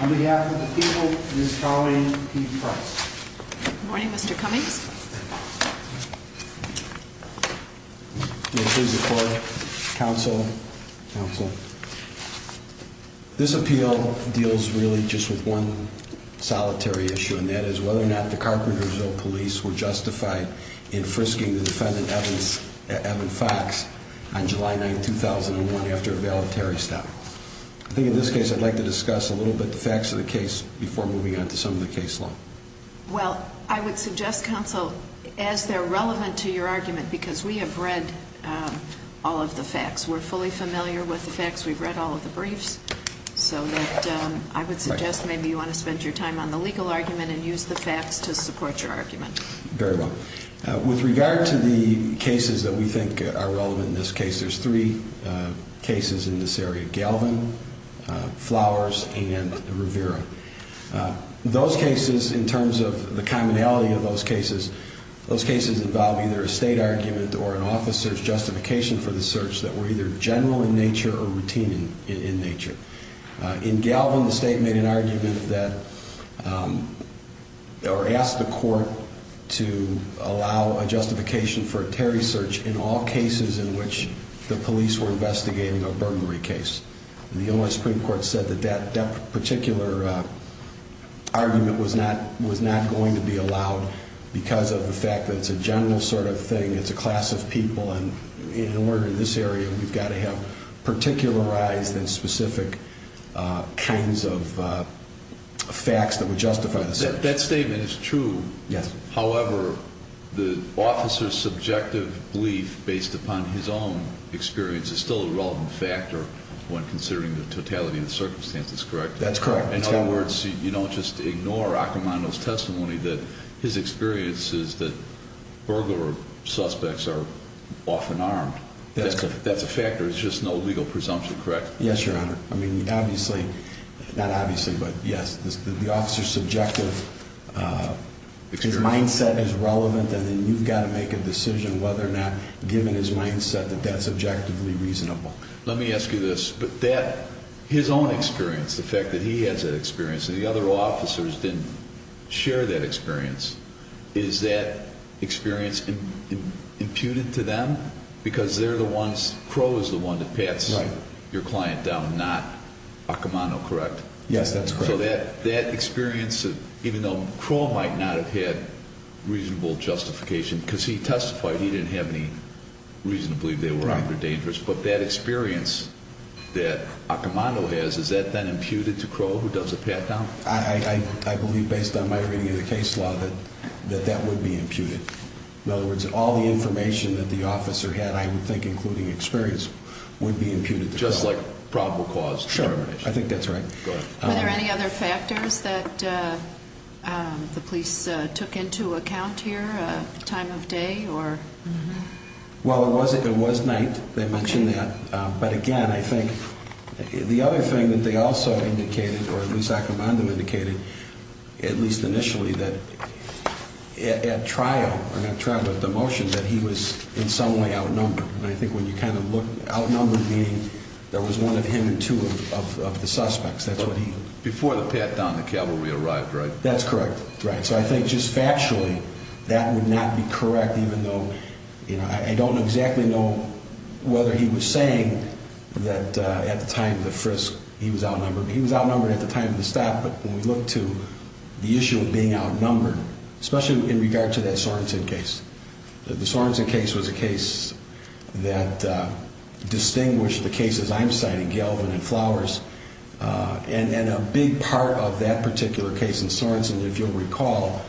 on behalf of the people and his colleague Pete Price. Good morning, Mr. Cummings. This appeal deals really just with one solitary issue, and that is whether or not the Carpentersville Police were justified in frisking the defendant, Evan Fox, on July 9, 2001, after a voluntary stop. I think in this case I'd like to discuss a little bit the facts of the case before moving on to some of the case law. Well, I would suggest, counsel, as they're relevant to your argument, because we have read all of the facts, we're fully familiar with the facts, we've read all of the briefs, so that I would suggest maybe you want to spend your time on the legal argument and use the facts to support your argument. Very well. With regard to the cases that we think are relevant in this case, there's three cases in this area, Galvin, Flowers, and Rivera. Those cases, in terms of the commonality of those cases, those cases involve either a state argument or an officer's justification for the search that were either general in nature or routine in nature. In Galvin, the state made an argument that, or asked the court to allow a justification for a Terry search in all cases in which the police were investigating a burglary case. The U.S. Supreme Court said that that particular argument was not going to be allowed because of the fact that it's a general sort of thing, it's a class of people, and in order in this area we've got to have particularized and specific kinds of facts that would justify the search. That statement is true, however, the officer's subjective belief based upon his own experience is still a relevant factor when considering the totality of the circumstances, correct? That's correct. In other words, you don't just ignore Accomando's testimony that his experience is that burglar suspects are often armed. That's correct. That's a factor, it's just no legal presumption, correct? Yes, Your Honor. I mean, obviously, not obviously, but yes, the officer's subjective, his mindset is relevant and then you've got to make a decision whether or not, given his mindset, that that's objectively reasonable. Let me ask you this, but that, his own experience, the fact that he has that experience and the other officers didn't share that experience, is that experience imputed to them because they're the ones, Crow is the one that pats your client down, not Accomando, correct? Yes, that's correct. So that experience, even though Crow might not have had reasonable justification because he testified he didn't have any reason to believe they were armed or dangerous, but that experience that Accomando has, is that then imputed to Crow, who does the pat-down? I believe, based on my reading of the case law, that that would be imputed. In other words, all the information that the officer had, I would think, including experience, would be imputed to Crow. Just like probable cause determination. Sure, I think that's right. Are there any other factors that the police took into account here, time of day? Well, it was night, they mentioned that, but again, I think the other thing that they also indicated, or at least Accomando indicated, at least initially, that at trial, or not trial, but at the motion, that he was in some way outnumbered. And I think when you kind of look, outnumbered meaning there was one of him and two of the suspects. Before the pat-down, the cavalry arrived, right? That's correct. So I think just factually, that would not be correct, even though I don't exactly know whether he was saying that at the time of the frisk, he was outnumbered. He was outnumbered at the time of the stop, but when we look to the issue of being outnumbered, especially in regard to that Sorenson case. The Sorenson case was a case that distinguished the cases I'm citing, Galvin and Flowers. And a big part of that particular case in Sorenson, if you'll recall,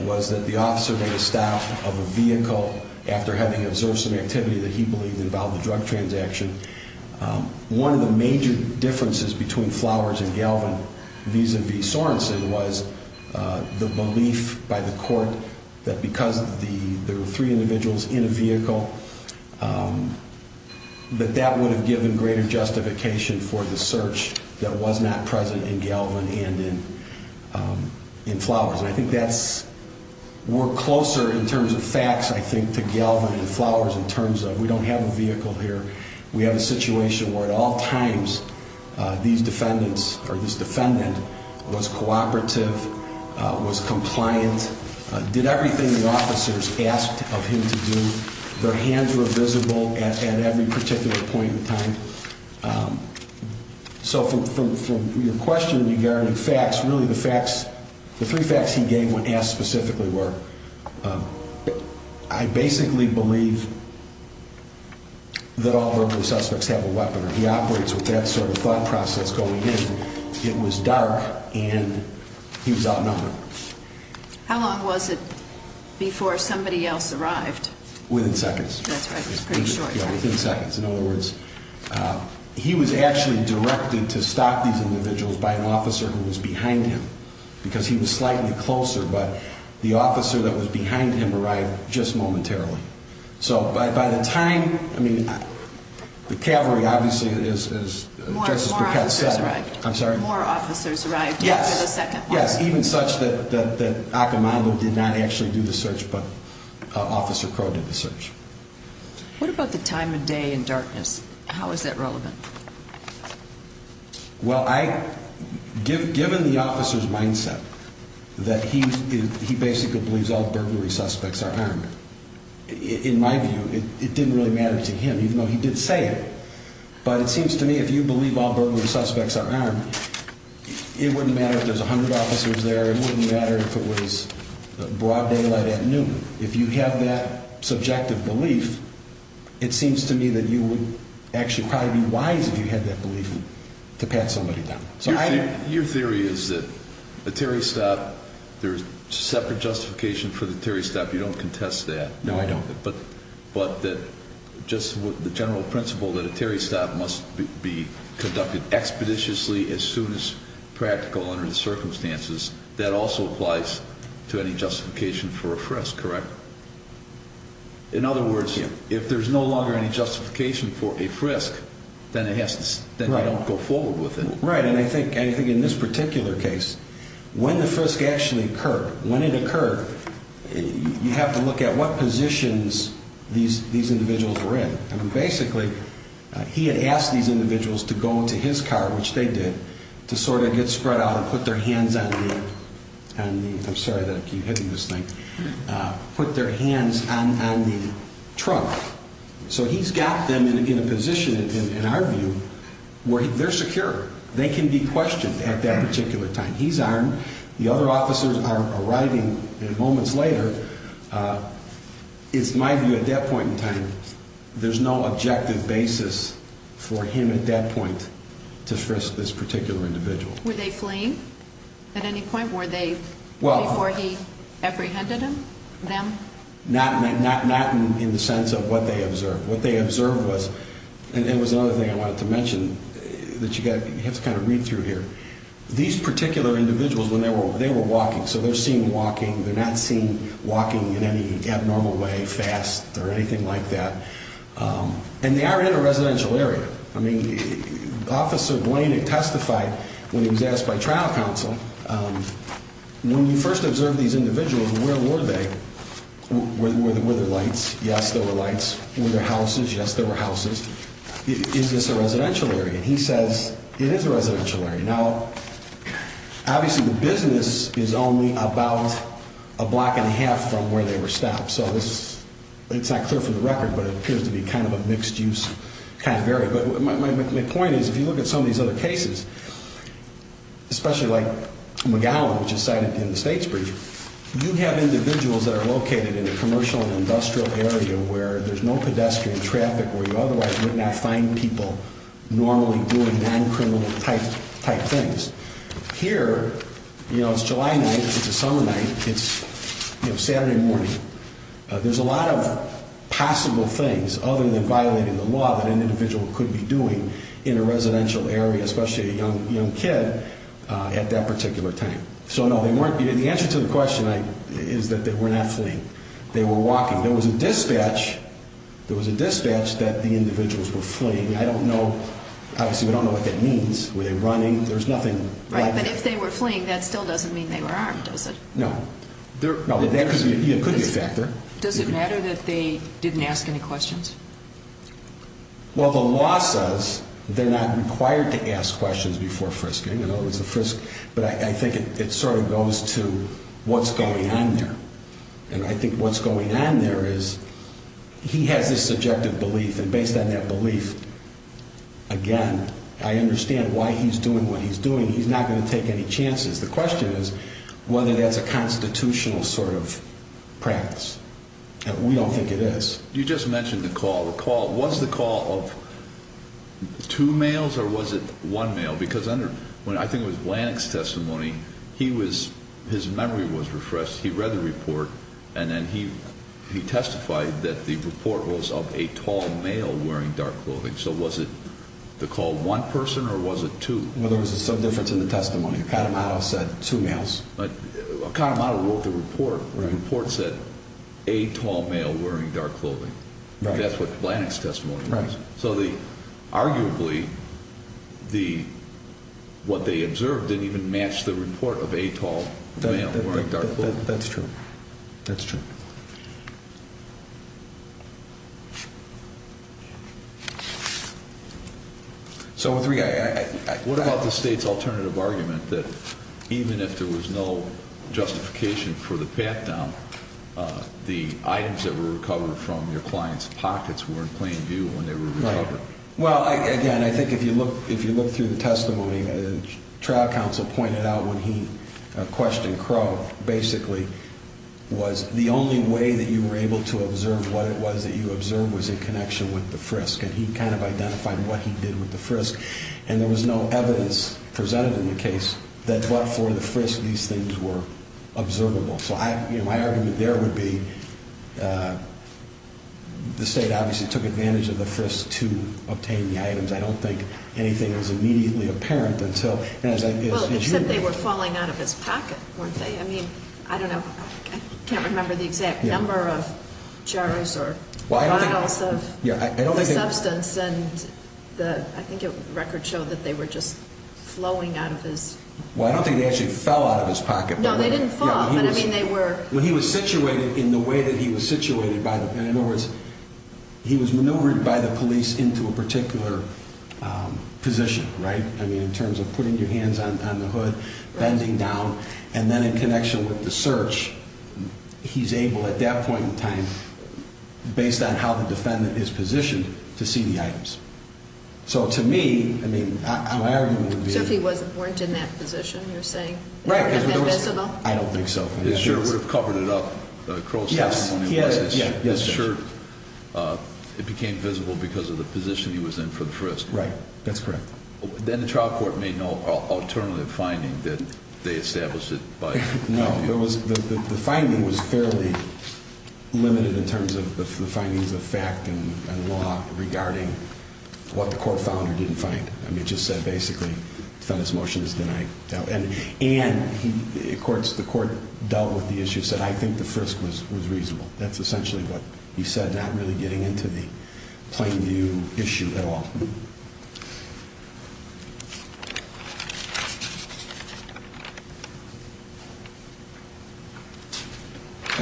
was that the officer made a stop of a vehicle after having observed some activity that he believed involved a drug transaction. One of the major differences between Flowers and Galvin vis-à-vis Sorenson was the belief by the court that because there were three individuals in a vehicle, that that would have given greater justification for the search that was not present in Galvin and in Flowers. And I think that's we're closer in terms of facts, I think, to Galvin and Flowers in terms of we don't have a vehicle here. We have a situation where at all times these defendants or this defendant was cooperative, was compliant, did everything the officers asked of him to do. Their hands were visible at every particular point in time. So from your question regarding facts, really the facts, the three facts he gave when asked specifically were, I basically believe that all verbal suspects have a weapon. He operates with that sort of thought process going in. It was dark and he was outnumbered. How long was it before somebody else arrived? Within seconds. That's right, it was pretty short. Yeah, within seconds. In other words, he was actually directed to stop these individuals by an officer who was behind him because he was slightly closer. But the officer that was behind him arrived just momentarily. So by the time, I mean, the cavalry obviously, as Justice Burkett said. More officers arrived. I'm sorry? More officers arrived after the second one. Yes, even such that Accomando did not actually do the search, but Officer Crow did the search. What about the time of day and darkness? How is that relevant? Well, given the officer's mindset that he basically believes all burglary suspects are armed, in my view, it didn't really matter to him, even though he did say it. But it seems to me if you believe all burglary suspects are armed, it wouldn't matter if there's 100 officers there. It wouldn't matter if it was broad daylight at noon. If you have that subjective belief, it seems to me that you would actually probably be wise, if you had that belief, to pat somebody down. Your theory is that a Terry stop, there's separate justification for the Terry stop. You don't contest that. No, I don't. But just with the general principle that a Terry stop must be conducted expeditiously as soon as practical under the circumstances, that also applies to any justification for a frisk, correct? In other words, if there's no longer any justification for a frisk, then you don't go forward with it. Right, and I think in this particular case, when the frisk actually occurred, when it occurred, you have to look at what positions these individuals were in. And basically, he had asked these individuals to go into his car, which they did, to sort of get spread out and put their hands on the, I'm sorry that I keep hitting this thing, put their hands on the trunk. So he's got them in a position, in our view, where they're secure. They can be questioned at that particular time. He's armed. The other officers are arriving. And moments later, it's my view at that point in time, there's no objective basis for him at that point to frisk this particular individual. Were they fleeing at any point? Were they before he apprehended them? Not in the sense of what they observed. What they observed was, and it was another thing I wanted to mention that you have to kind of read through here. These particular individuals, when they were walking, so they're seen walking. They're not seen walking in any abnormal way, fast, or anything like that. And they are in a residential area. I mean, Officer Blaney testified when he was asked by trial counsel, when you first observe these individuals, where were they? Were there lights? Yes, there were lights. Were there houses? Yes, there were houses. Is this a residential area? He says it is a residential area. Now, obviously, the business is only about a block and a half from where they were stopped. So it's not clear for the record, but it appears to be kind of a mixed-use kind of area. But my point is, if you look at some of these other cases, especially like McGowan, which is cited in the state's brief, you have individuals that are located in a commercial and industrial area where there's no pedestrian traffic, where you otherwise would not find people normally doing non-criminal type things. Here, you know, it's July night. It's a summer night. It's Saturday morning. There's a lot of possible things, other than violating the law, that an individual could be doing in a residential area, especially a young kid at that particular time. So, no, the answer to the question is that they were not fleeing. They were walking. There was a dispatch. There was a dispatch that the individuals were fleeing. I don't know. Obviously, we don't know what that means. Were they running? There's nothing like that. Right, but if they were fleeing, that still doesn't mean they were armed, does it? No. No, that could be a factor. Does it matter that they didn't ask any questions? Well, the law says they're not required to ask questions before frisking. You know, it's a frisk. But I think it sort of goes to what's going on there. And I think what's going on there is he has this subjective belief, and based on that belief, again, I understand why he's doing what he's doing. He's not going to take any chances. The question is whether that's a constitutional sort of practice. We don't think it is. You just mentioned the call. Was the call of two males or was it one male? I think it was Blanick's testimony. His memory was refreshed. He read the report, and then he testified that the report was of a tall male wearing dark clothing. So was it the call of one person or was it two? Well, there was some difference in the testimony. Accadamato said two males. Accadamato wrote the report. The report said a tall male wearing dark clothing. That's what Blanick's testimony was. So arguably what they observed didn't even match the report of a tall male wearing dark clothing. That's true. That's true. So what about the State's alternative argument that even if there was no justification for the pat-down, the items that were recovered from your client's pockets weren't plain due when they were recovered? Well, again, I think if you look through the testimony, the trial counsel pointed out when he questioned Crow, basically, was the only way that you were able to observe what it was that you observed was in connection with the frisk. And he kind of identified what he did with the frisk. And there was no evidence presented in the case that but for the frisk these things were observable. So my argument there would be the State obviously took advantage of the frisk to obtain the items. I don't think anything was immediately apparent until, and as I, as you. Well, except they were falling out of his pocket, weren't they? I mean, I don't know. I can't remember the exact number of jars or bottles of the substance. And I think the record showed that they were just flowing out of his. Well, I don't think they actually fell out of his pocket. No, they didn't fall. But, I mean, they were. Well, he was situated in the way that he was situated by the, in other words, he was maneuvered by the police into a particular position, right? I mean, in terms of putting your hands on the hood, bending down. And then in connection with the search, he's able at that point in time, based on how the defendant is positioned, to see the items. So to me, I mean, my argument would be. So if he wasn't, weren't in that position, you're saying? Right. He wouldn't have been visible? I don't think so. His shirt would have covered it up. Crow's testimony was his shirt. His shirt, it became visible because of the position he was in for the frisk. Right. That's correct. Then the trial court made no alternative finding that they established it by. No. The finding was fairly limited in terms of the findings of fact and law regarding what the court found or didn't find. I mean, it just said, basically, defendant's motion is denied. And the court dealt with the issue and said, I think the frisk was reasonable. That's essentially what he said, not really getting into the plain view issue at all.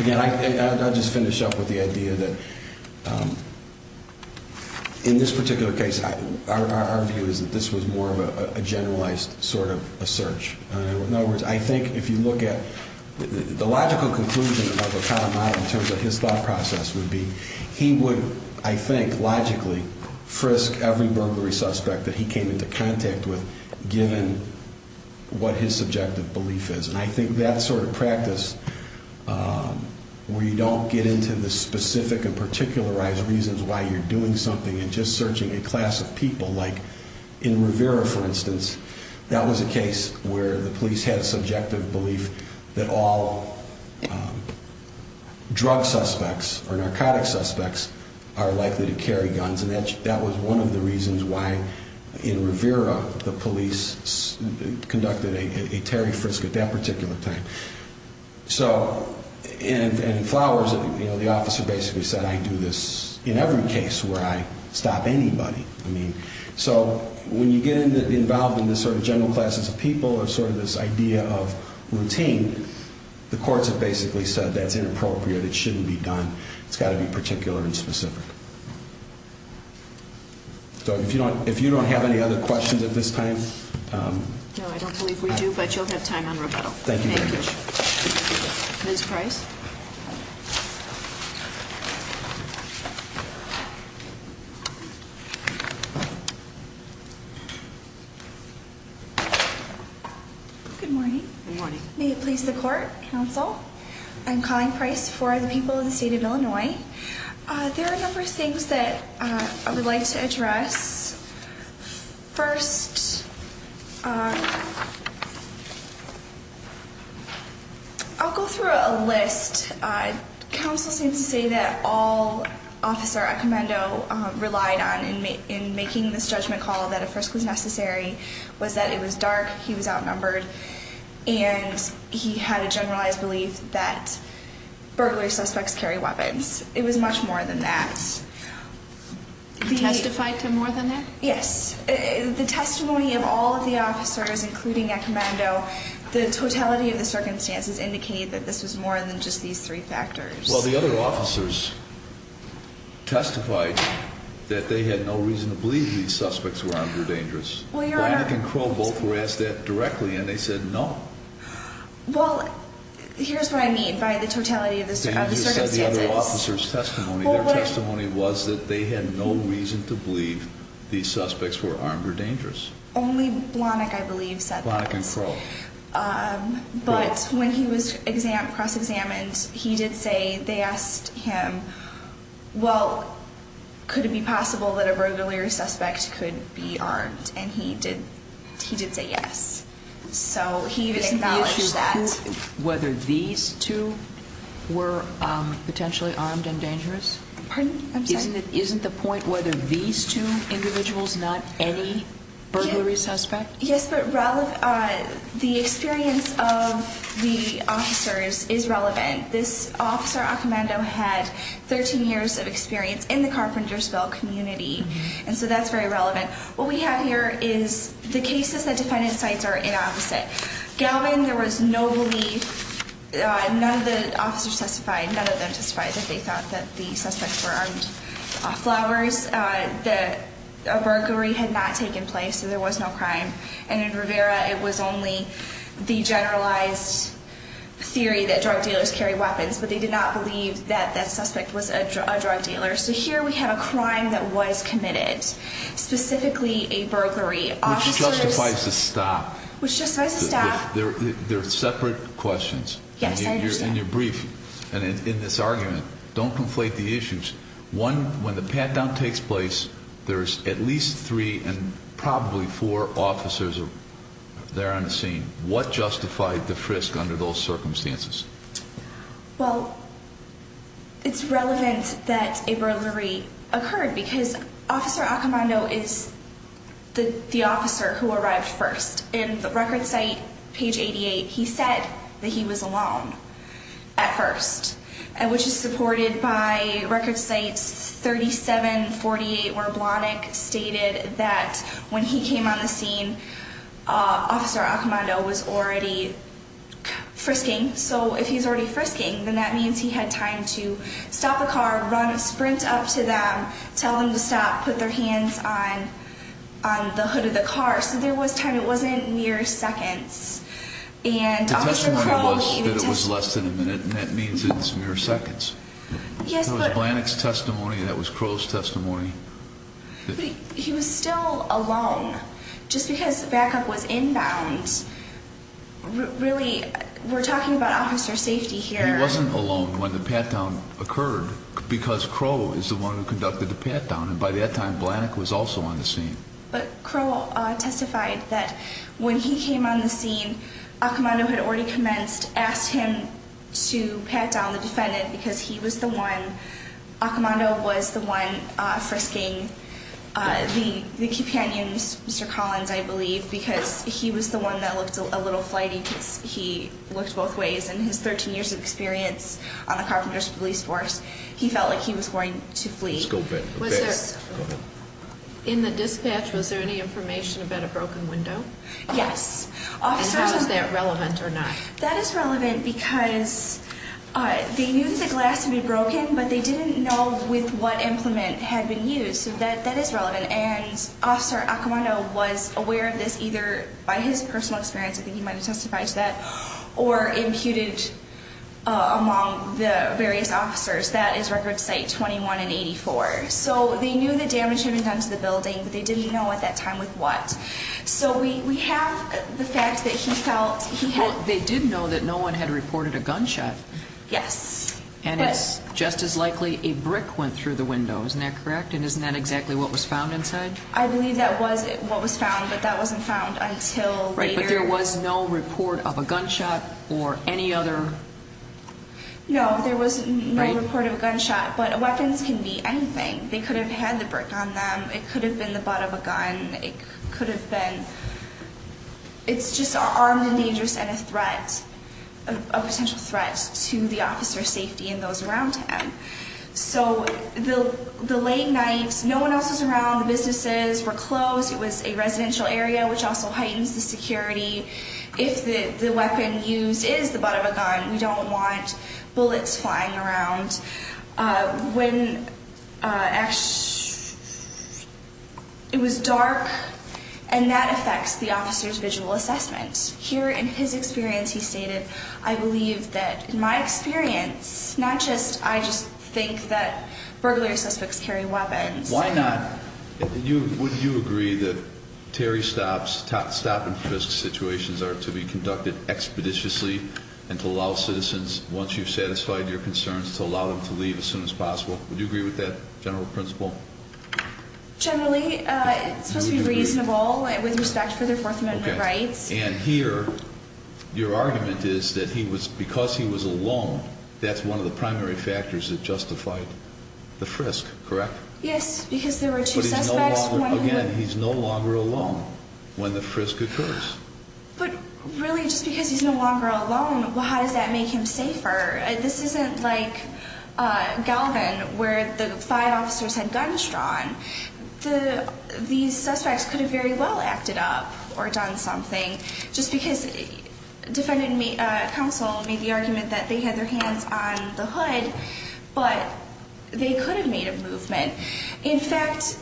Again, I'll just finish up with the idea that in this particular case, our view is that this was more of a generalized sort of a search. In other words, I think if you look at the logical conclusion of O'Connell in terms of his thought process would be he would, I think, logically, frisk every burglary suspect that he came into contact with, given what his subjective belief is. And I think that sort of practice where you don't get into the specific and particularized reasons why you're doing something and just searching a class of people like in Rivera, for instance, that was a case where the police had a subjective belief that all drug suspects or narcotic suspects are likely to carry guns. And that was one of the reasons why in Rivera the police conducted a Terry frisk at that particular time. So in Flowers, the officer basically said, I do this in every case where I stop anybody. So when you get involved in this sort of general classes of people or sort of this idea of routine, the courts have basically said that's inappropriate. It shouldn't be done. It's got to be particular and specific. So if you don't have any other questions at this time. No, I don't believe we do, but you'll have time on rebuttal. Thank you very much. Ms. Price. Good morning. Good morning. May it please the Court, Counsel, I'm Colleen Price for the people of the State of Illinois. There are a number of things that I would like to address. First, I'll go through a list. Counsel seems to say that all Officer Accomando relied on in making this judgment call that a frisk was necessary was that it was dark, he was outnumbered, and he had a generalized belief that burglary suspects carry weapons. It was much more than that. Testified to more than that? Yes. The testimony of all of the officers, including Accomando, the totality of the circumstances indicate that this was more than just these three factors. Well, the other officers testified that they had no reason to believe these suspects were armed or dangerous. Blahnik and Crow both were asked that directly, and they said no. Well, here's what I mean by the totality of the circumstances. And you said the other officers' testimony. Their testimony was that they had no reason to believe these suspects were armed or dangerous. Only Blahnik, I believe, said that. Blahnik and Crow. But when he was cross-examined, he did say they asked him, well, could it be possible that a burglary suspect could be armed? And he did say yes. So he acknowledged that. Isn't the issue whether these two were potentially armed and dangerous? Pardon? I'm sorry? Isn't the point whether these two individuals, not any burglary suspect? Yes, but the experience of the officers is relevant. This officer, Accomando, had 13 years of experience in the Carpentersville community, and so that's very relevant. What we have here is the cases that defendant cites are inopposite. Galvin, there was no belief. None of the officers testified. None of them testified that they thought that the suspects were armed. Flowers, a burglary had not taken place, so there was no crime. And in Rivera, it was only the generalized theory that drug dealers carry weapons, but they did not believe that that suspect was a drug dealer. So here we have a crime that was committed, specifically a burglary. Which justifies a stop. Which justifies a stop. They're separate questions. Yes, I understand. In your brief and in this argument, don't conflate the issues. One, when the pat-down takes place, there's at least three and probably four officers there on the scene. What justified the frisk under those circumstances? Well, it's relevant that a burglary occurred because Officer Accomando is the officer who arrived first. In the record site, page 88, he said that he was alone at first, which is supported by record site 3748, where Blahnik stated that when he came on the scene, Officer Accomando was already frisking. So if he's already frisking, then that means he had time to stop the car, run, sprint up to them, tell them to stop, put their hands on the hood of the car. So there was time. It wasn't mere seconds. The testimony was that it was less than a minute, and that means it's mere seconds. That was Blahnik's testimony. That was Crow's testimony. He was still alone. Just because backup was inbound, really, we're talking about officer safety here. He wasn't alone when the pat-down occurred because Crow is the one who conducted the pat-down, and by that time, Blahnik was also on the scene. But Crow testified that when he came on the scene, Accomando had already commenced, asked him to pat down the defendant because he was the one, Accomando was the one frisking the companions, Mr. Collins, I believe, because he was the one that looked a little flighty because he looked both ways, and his 13 years of experience on the Carpenters Police Force, he felt like he was going to flee. In the dispatch, was there any information about a broken window? Yes. And how is that relevant or not? That is relevant because they knew that the glass had been broken, but they didn't know with what implement had been used, so that is relevant. And Officer Accomando was aware of this either by his personal experience, I think he might have testified to that, or imputed among the various officers. That is Record Site 21 and 84. So they knew the damage had been done to the building, but they didn't know at that time with what. So we have the fact that he felt he had... Well, they did know that no one had reported a gunshot. Yes. And it's just as likely a brick went through the window, isn't that correct? And isn't that exactly what was found inside? I believe that was what was found, but that wasn't found until later. Right, but there was no report of a gunshot or any other... No, there was no report of a gunshot, but weapons can be anything. They could have had the brick on them, it could have been the butt of a gun, it could have been... It's just armed and dangerous and a threat, a potential threat to the officer's safety and those around him. So the late nights, no one else was around, the businesses were closed, it was a residential area, which also heightens the security. If the weapon used is the butt of a gun, we don't want bullets flying around. It was dark, and that affects the officer's visual assessment. Here, in his experience, he stated, I believe that in my experience, not just I just think that burglary suspects carry weapons. Why not? Would you agree that Terry Stott's stop-and-frisk situations are to be conducted expeditiously and to allow citizens, once you've satisfied your concerns, to allow them to leave as soon as possible? Would you agree with that general principle? Generally, it's supposed to be reasonable with respect for their Fourth Amendment rights. And here, your argument is that because he was alone, that's one of the primary factors that justified the frisk, correct? Yes, because there were two suspects. Again, he's no longer alone when the frisk occurs. But really, just because he's no longer alone, how does that make him safer? This isn't like Galvin, where the five officers had guns drawn. These suspects could have very well acted up or done something, just because counsel made the argument that they had their hands on the hood, but they could have made a movement. In fact,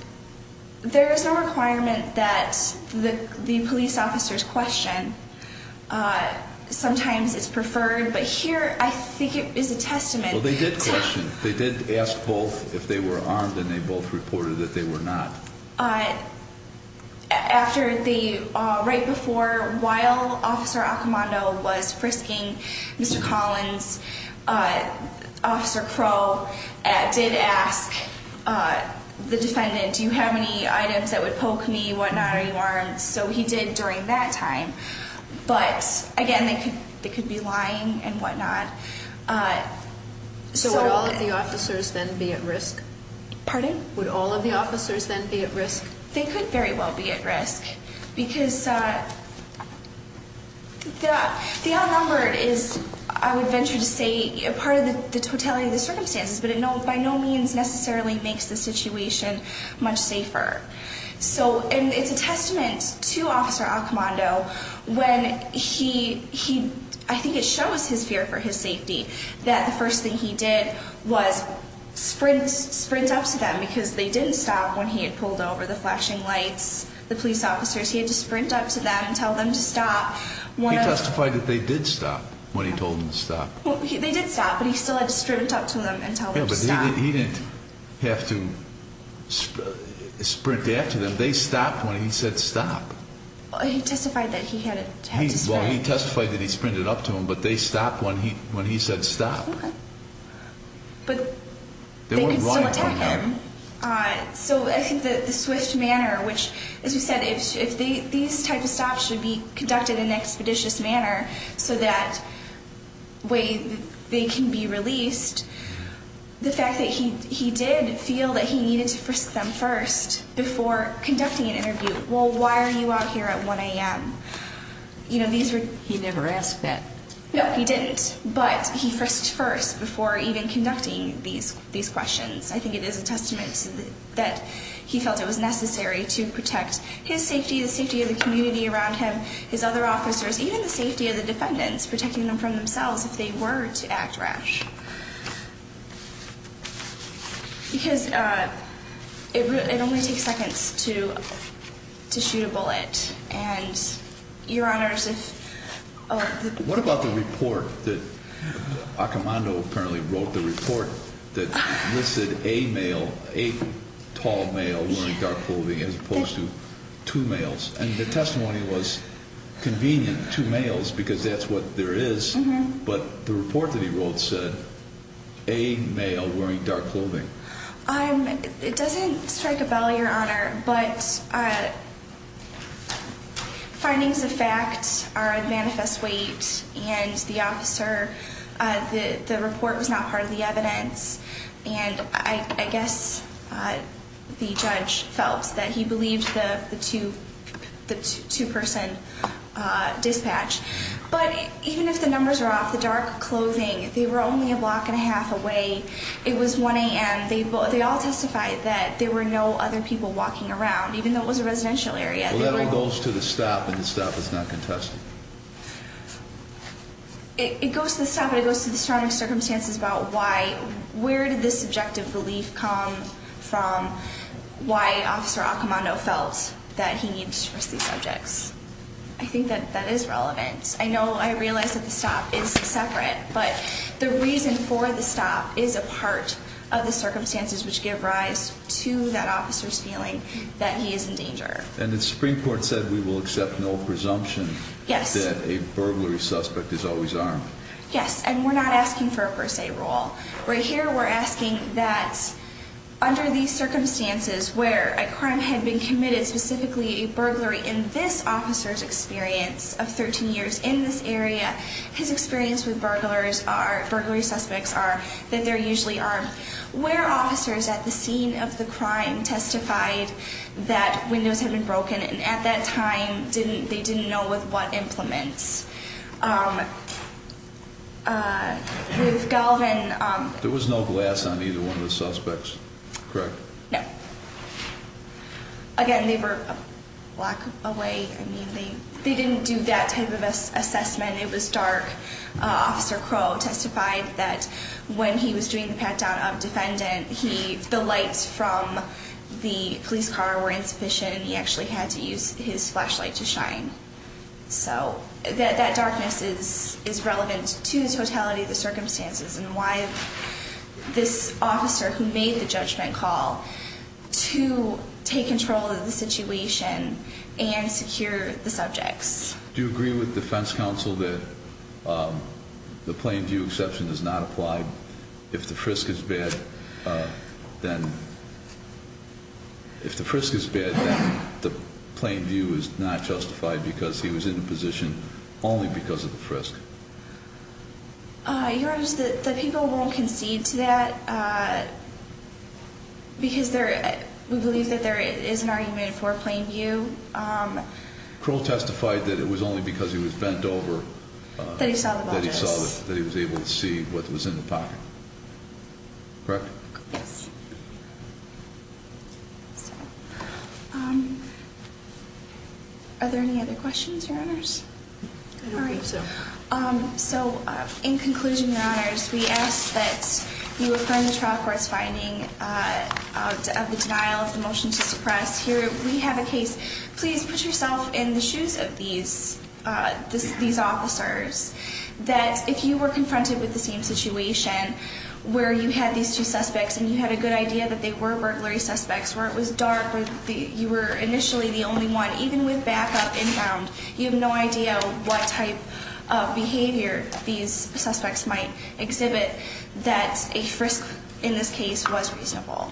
there is no requirement that the police officers question. Sometimes it's preferred, but here I think it is a testament. Well, they did question. They did ask both if they were armed, and they both reported that they were not. Right before, while Officer Accomando was frisking Mr. Collins, Officer Crow did ask the defendant, do you have any items that would poke me, whatnot, are you armed? So he did during that time. But again, they could be lying and whatnot. So would all of the officers then be at risk? Pardon? Would all of the officers then be at risk? They could very well be at risk, because the outnumbered is, I would venture to say, a part of the totality of the circumstances, but it by no means necessarily makes the situation much safer. And it's a testament to Officer Accomando when he, I think it shows his fear for his safety, that the first thing he did was sprint up to them, because they didn't stop when he had pulled over the flashing lights. The police officers, he had to sprint up to them and tell them to stop. He testified that they did stop when he told them to stop. They did stop, but he still had to sprint up to them and tell them to stop. Yeah, but he didn't have to sprint after them. They stopped when he said stop. He testified that he had to sprint. He testified that he sprinted up to them, but they stopped when he said stop. Okay. But they could still attack him. So I think that the swift manner, which, as you said, if these types of stops should be conducted in an expeditious manner so that way they can be released, the fact that he did feel that he needed to frisk them first before conducting an interview, well, why are you out here at 1 a.m.? He never asked that. No, he didn't, but he frisked first before even conducting these questions. I think it is a testament that he felt it was necessary to protect his safety, the safety of the community around him, his other officers, even the safety of the defendants, protecting them from themselves if they were to act rash. Because it only takes seconds to shoot a bullet, and, Your Honors, if the... What about the report that Accomando apparently wrote, the report that listed a male, a tall male wearing dark clothing as opposed to two males? And the testimony was convenient, two males, because that's what there is, but the report that he wrote said a male wearing dark clothing. It doesn't strike a bell, Your Honor, but findings of fact are a manifest weight, and the report was not part of the evidence, and I guess the judge felt that he believed the two-person dispatch. But even if the numbers are off, the dark clothing, they were only a block and a half away. It was 1 a.m. And they all testified that there were no other people walking around, even though it was a residential area. Well, that all goes to the stop, and the stop is not contested. It goes to the stop, and it goes to the surrounding circumstances about why, where did this subjective belief come from, why Officer Accomando felt that he needed to disperse these subjects. I think that that is relevant. I know I realize that the stop is separate, but the reason for the stop is a part of the circumstances which give rise to that officer's feeling that he is in danger. And the Supreme Court said we will accept no presumption that a burglary suspect is always armed. Yes, and we're not asking for a per se rule. Right here, we're asking that under these circumstances where a crime had been committed, specifically a burglary in this officer's experience of 13 years in this area, his experience with burglary suspects are that they're usually armed. Where officers at the scene of the crime testified that windows had been broken and at that time they didn't know with what implements. With Galvin... There was no glass on either one of the suspects, correct? No. Again, they were a block away. They didn't do that type of assessment. It was dark. Officer Crow testified that when he was doing the pat-down of defendant, the lights from the police car were insufficient and he actually had to use his flashlight to shine. So that darkness is relevant to the totality of the circumstances and why this officer who made the judgment call to take control of the situation and secure the subjects. Do you agree with defense counsel that the plain view exception is not applied? If the frisk is bad, then... If the frisk is bad, then the plain view is not justified because he was in a position only because of the frisk. Your Honor, the people won't concede to that because we believe that there is an argument for plain view. Crow testified that it was only because he was bent over... That he saw the bodice. ...that he was able to see what was in the pocket. Correct? Yes. Are there any other questions, Your Honors? I don't think so. So in conclusion, Your Honors, we ask that you affirm the trial court's finding of the denial of the motion to suppress. Here we have a case. Please put yourself in the shoes of these officers that if you were confronted with the same situation where you had these two suspects and you had a good idea that they were burglary suspects, where it was dark, where you were initially the only one, even with backup inbound, you have no idea what type of behavior these suspects might exhibit that a frisk in this case was reasonable.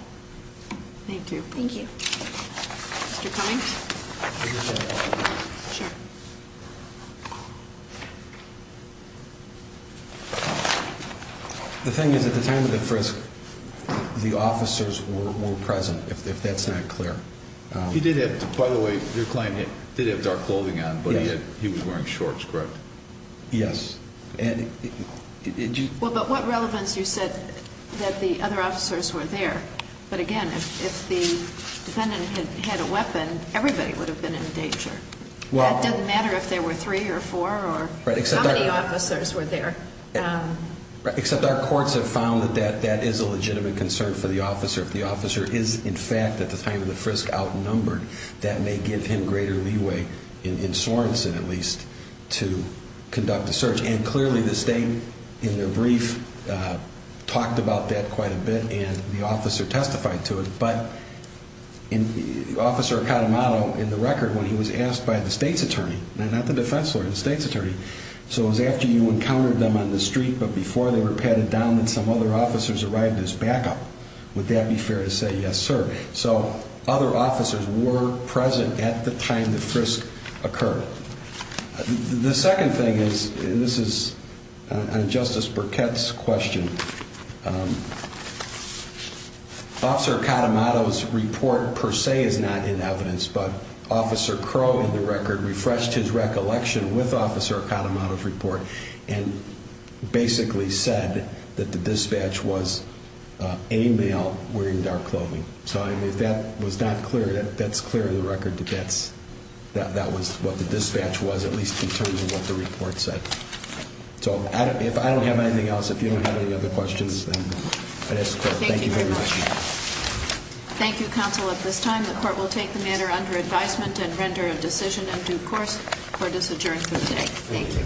Thank you. Thank you. Mr. Cummings? The thing is, at the time of the frisk, the officers were present, if that's not clear. He did have, by the way, your client did have dark clothing on, but he was wearing shorts, correct? Yes. Well, but what relevance, you said, that the other officers were there. But again, if the defendant had a weapon, everybody would have been in danger. It doesn't matter if there were three or four or how many officers were there. Except our courts have found that that is a legitimate concern for the officer. If the officer is, in fact, at the time of the frisk, outnumbered, that may give him greater leeway, in Sorensen at least, to conduct the search. And clearly the state, in their brief, talked about that quite a bit, and the officer testified to it. But Officer Acatamano, in the record, when he was asked by the state's attorney, not the defense lawyer, the state's attorney, so it was after you encountered them on the street, but before they were patted down that some other officers arrived as backup. Would that be fair to say, yes, sir? So other officers were present at the time the frisk occurred. The second thing is, and this is on Justice Burkett's question, Officer Acatamano's report, per se, is not in evidence, but Officer Crowe, in the record, refreshed his recollection with Officer Acatamano's report and basically said that the dispatch was a male wearing dark clothing. So if that was not clear, that's clear in the record that that was what the dispatch was, at least in terms of what the report said. So if I don't have anything else, if you don't have any other questions, then I'd ask the court. Thank you very much. Thank you, counsel. At this time, the court will take the matter under advisement and render a decision in due course. Court is adjourned for today. Thank you.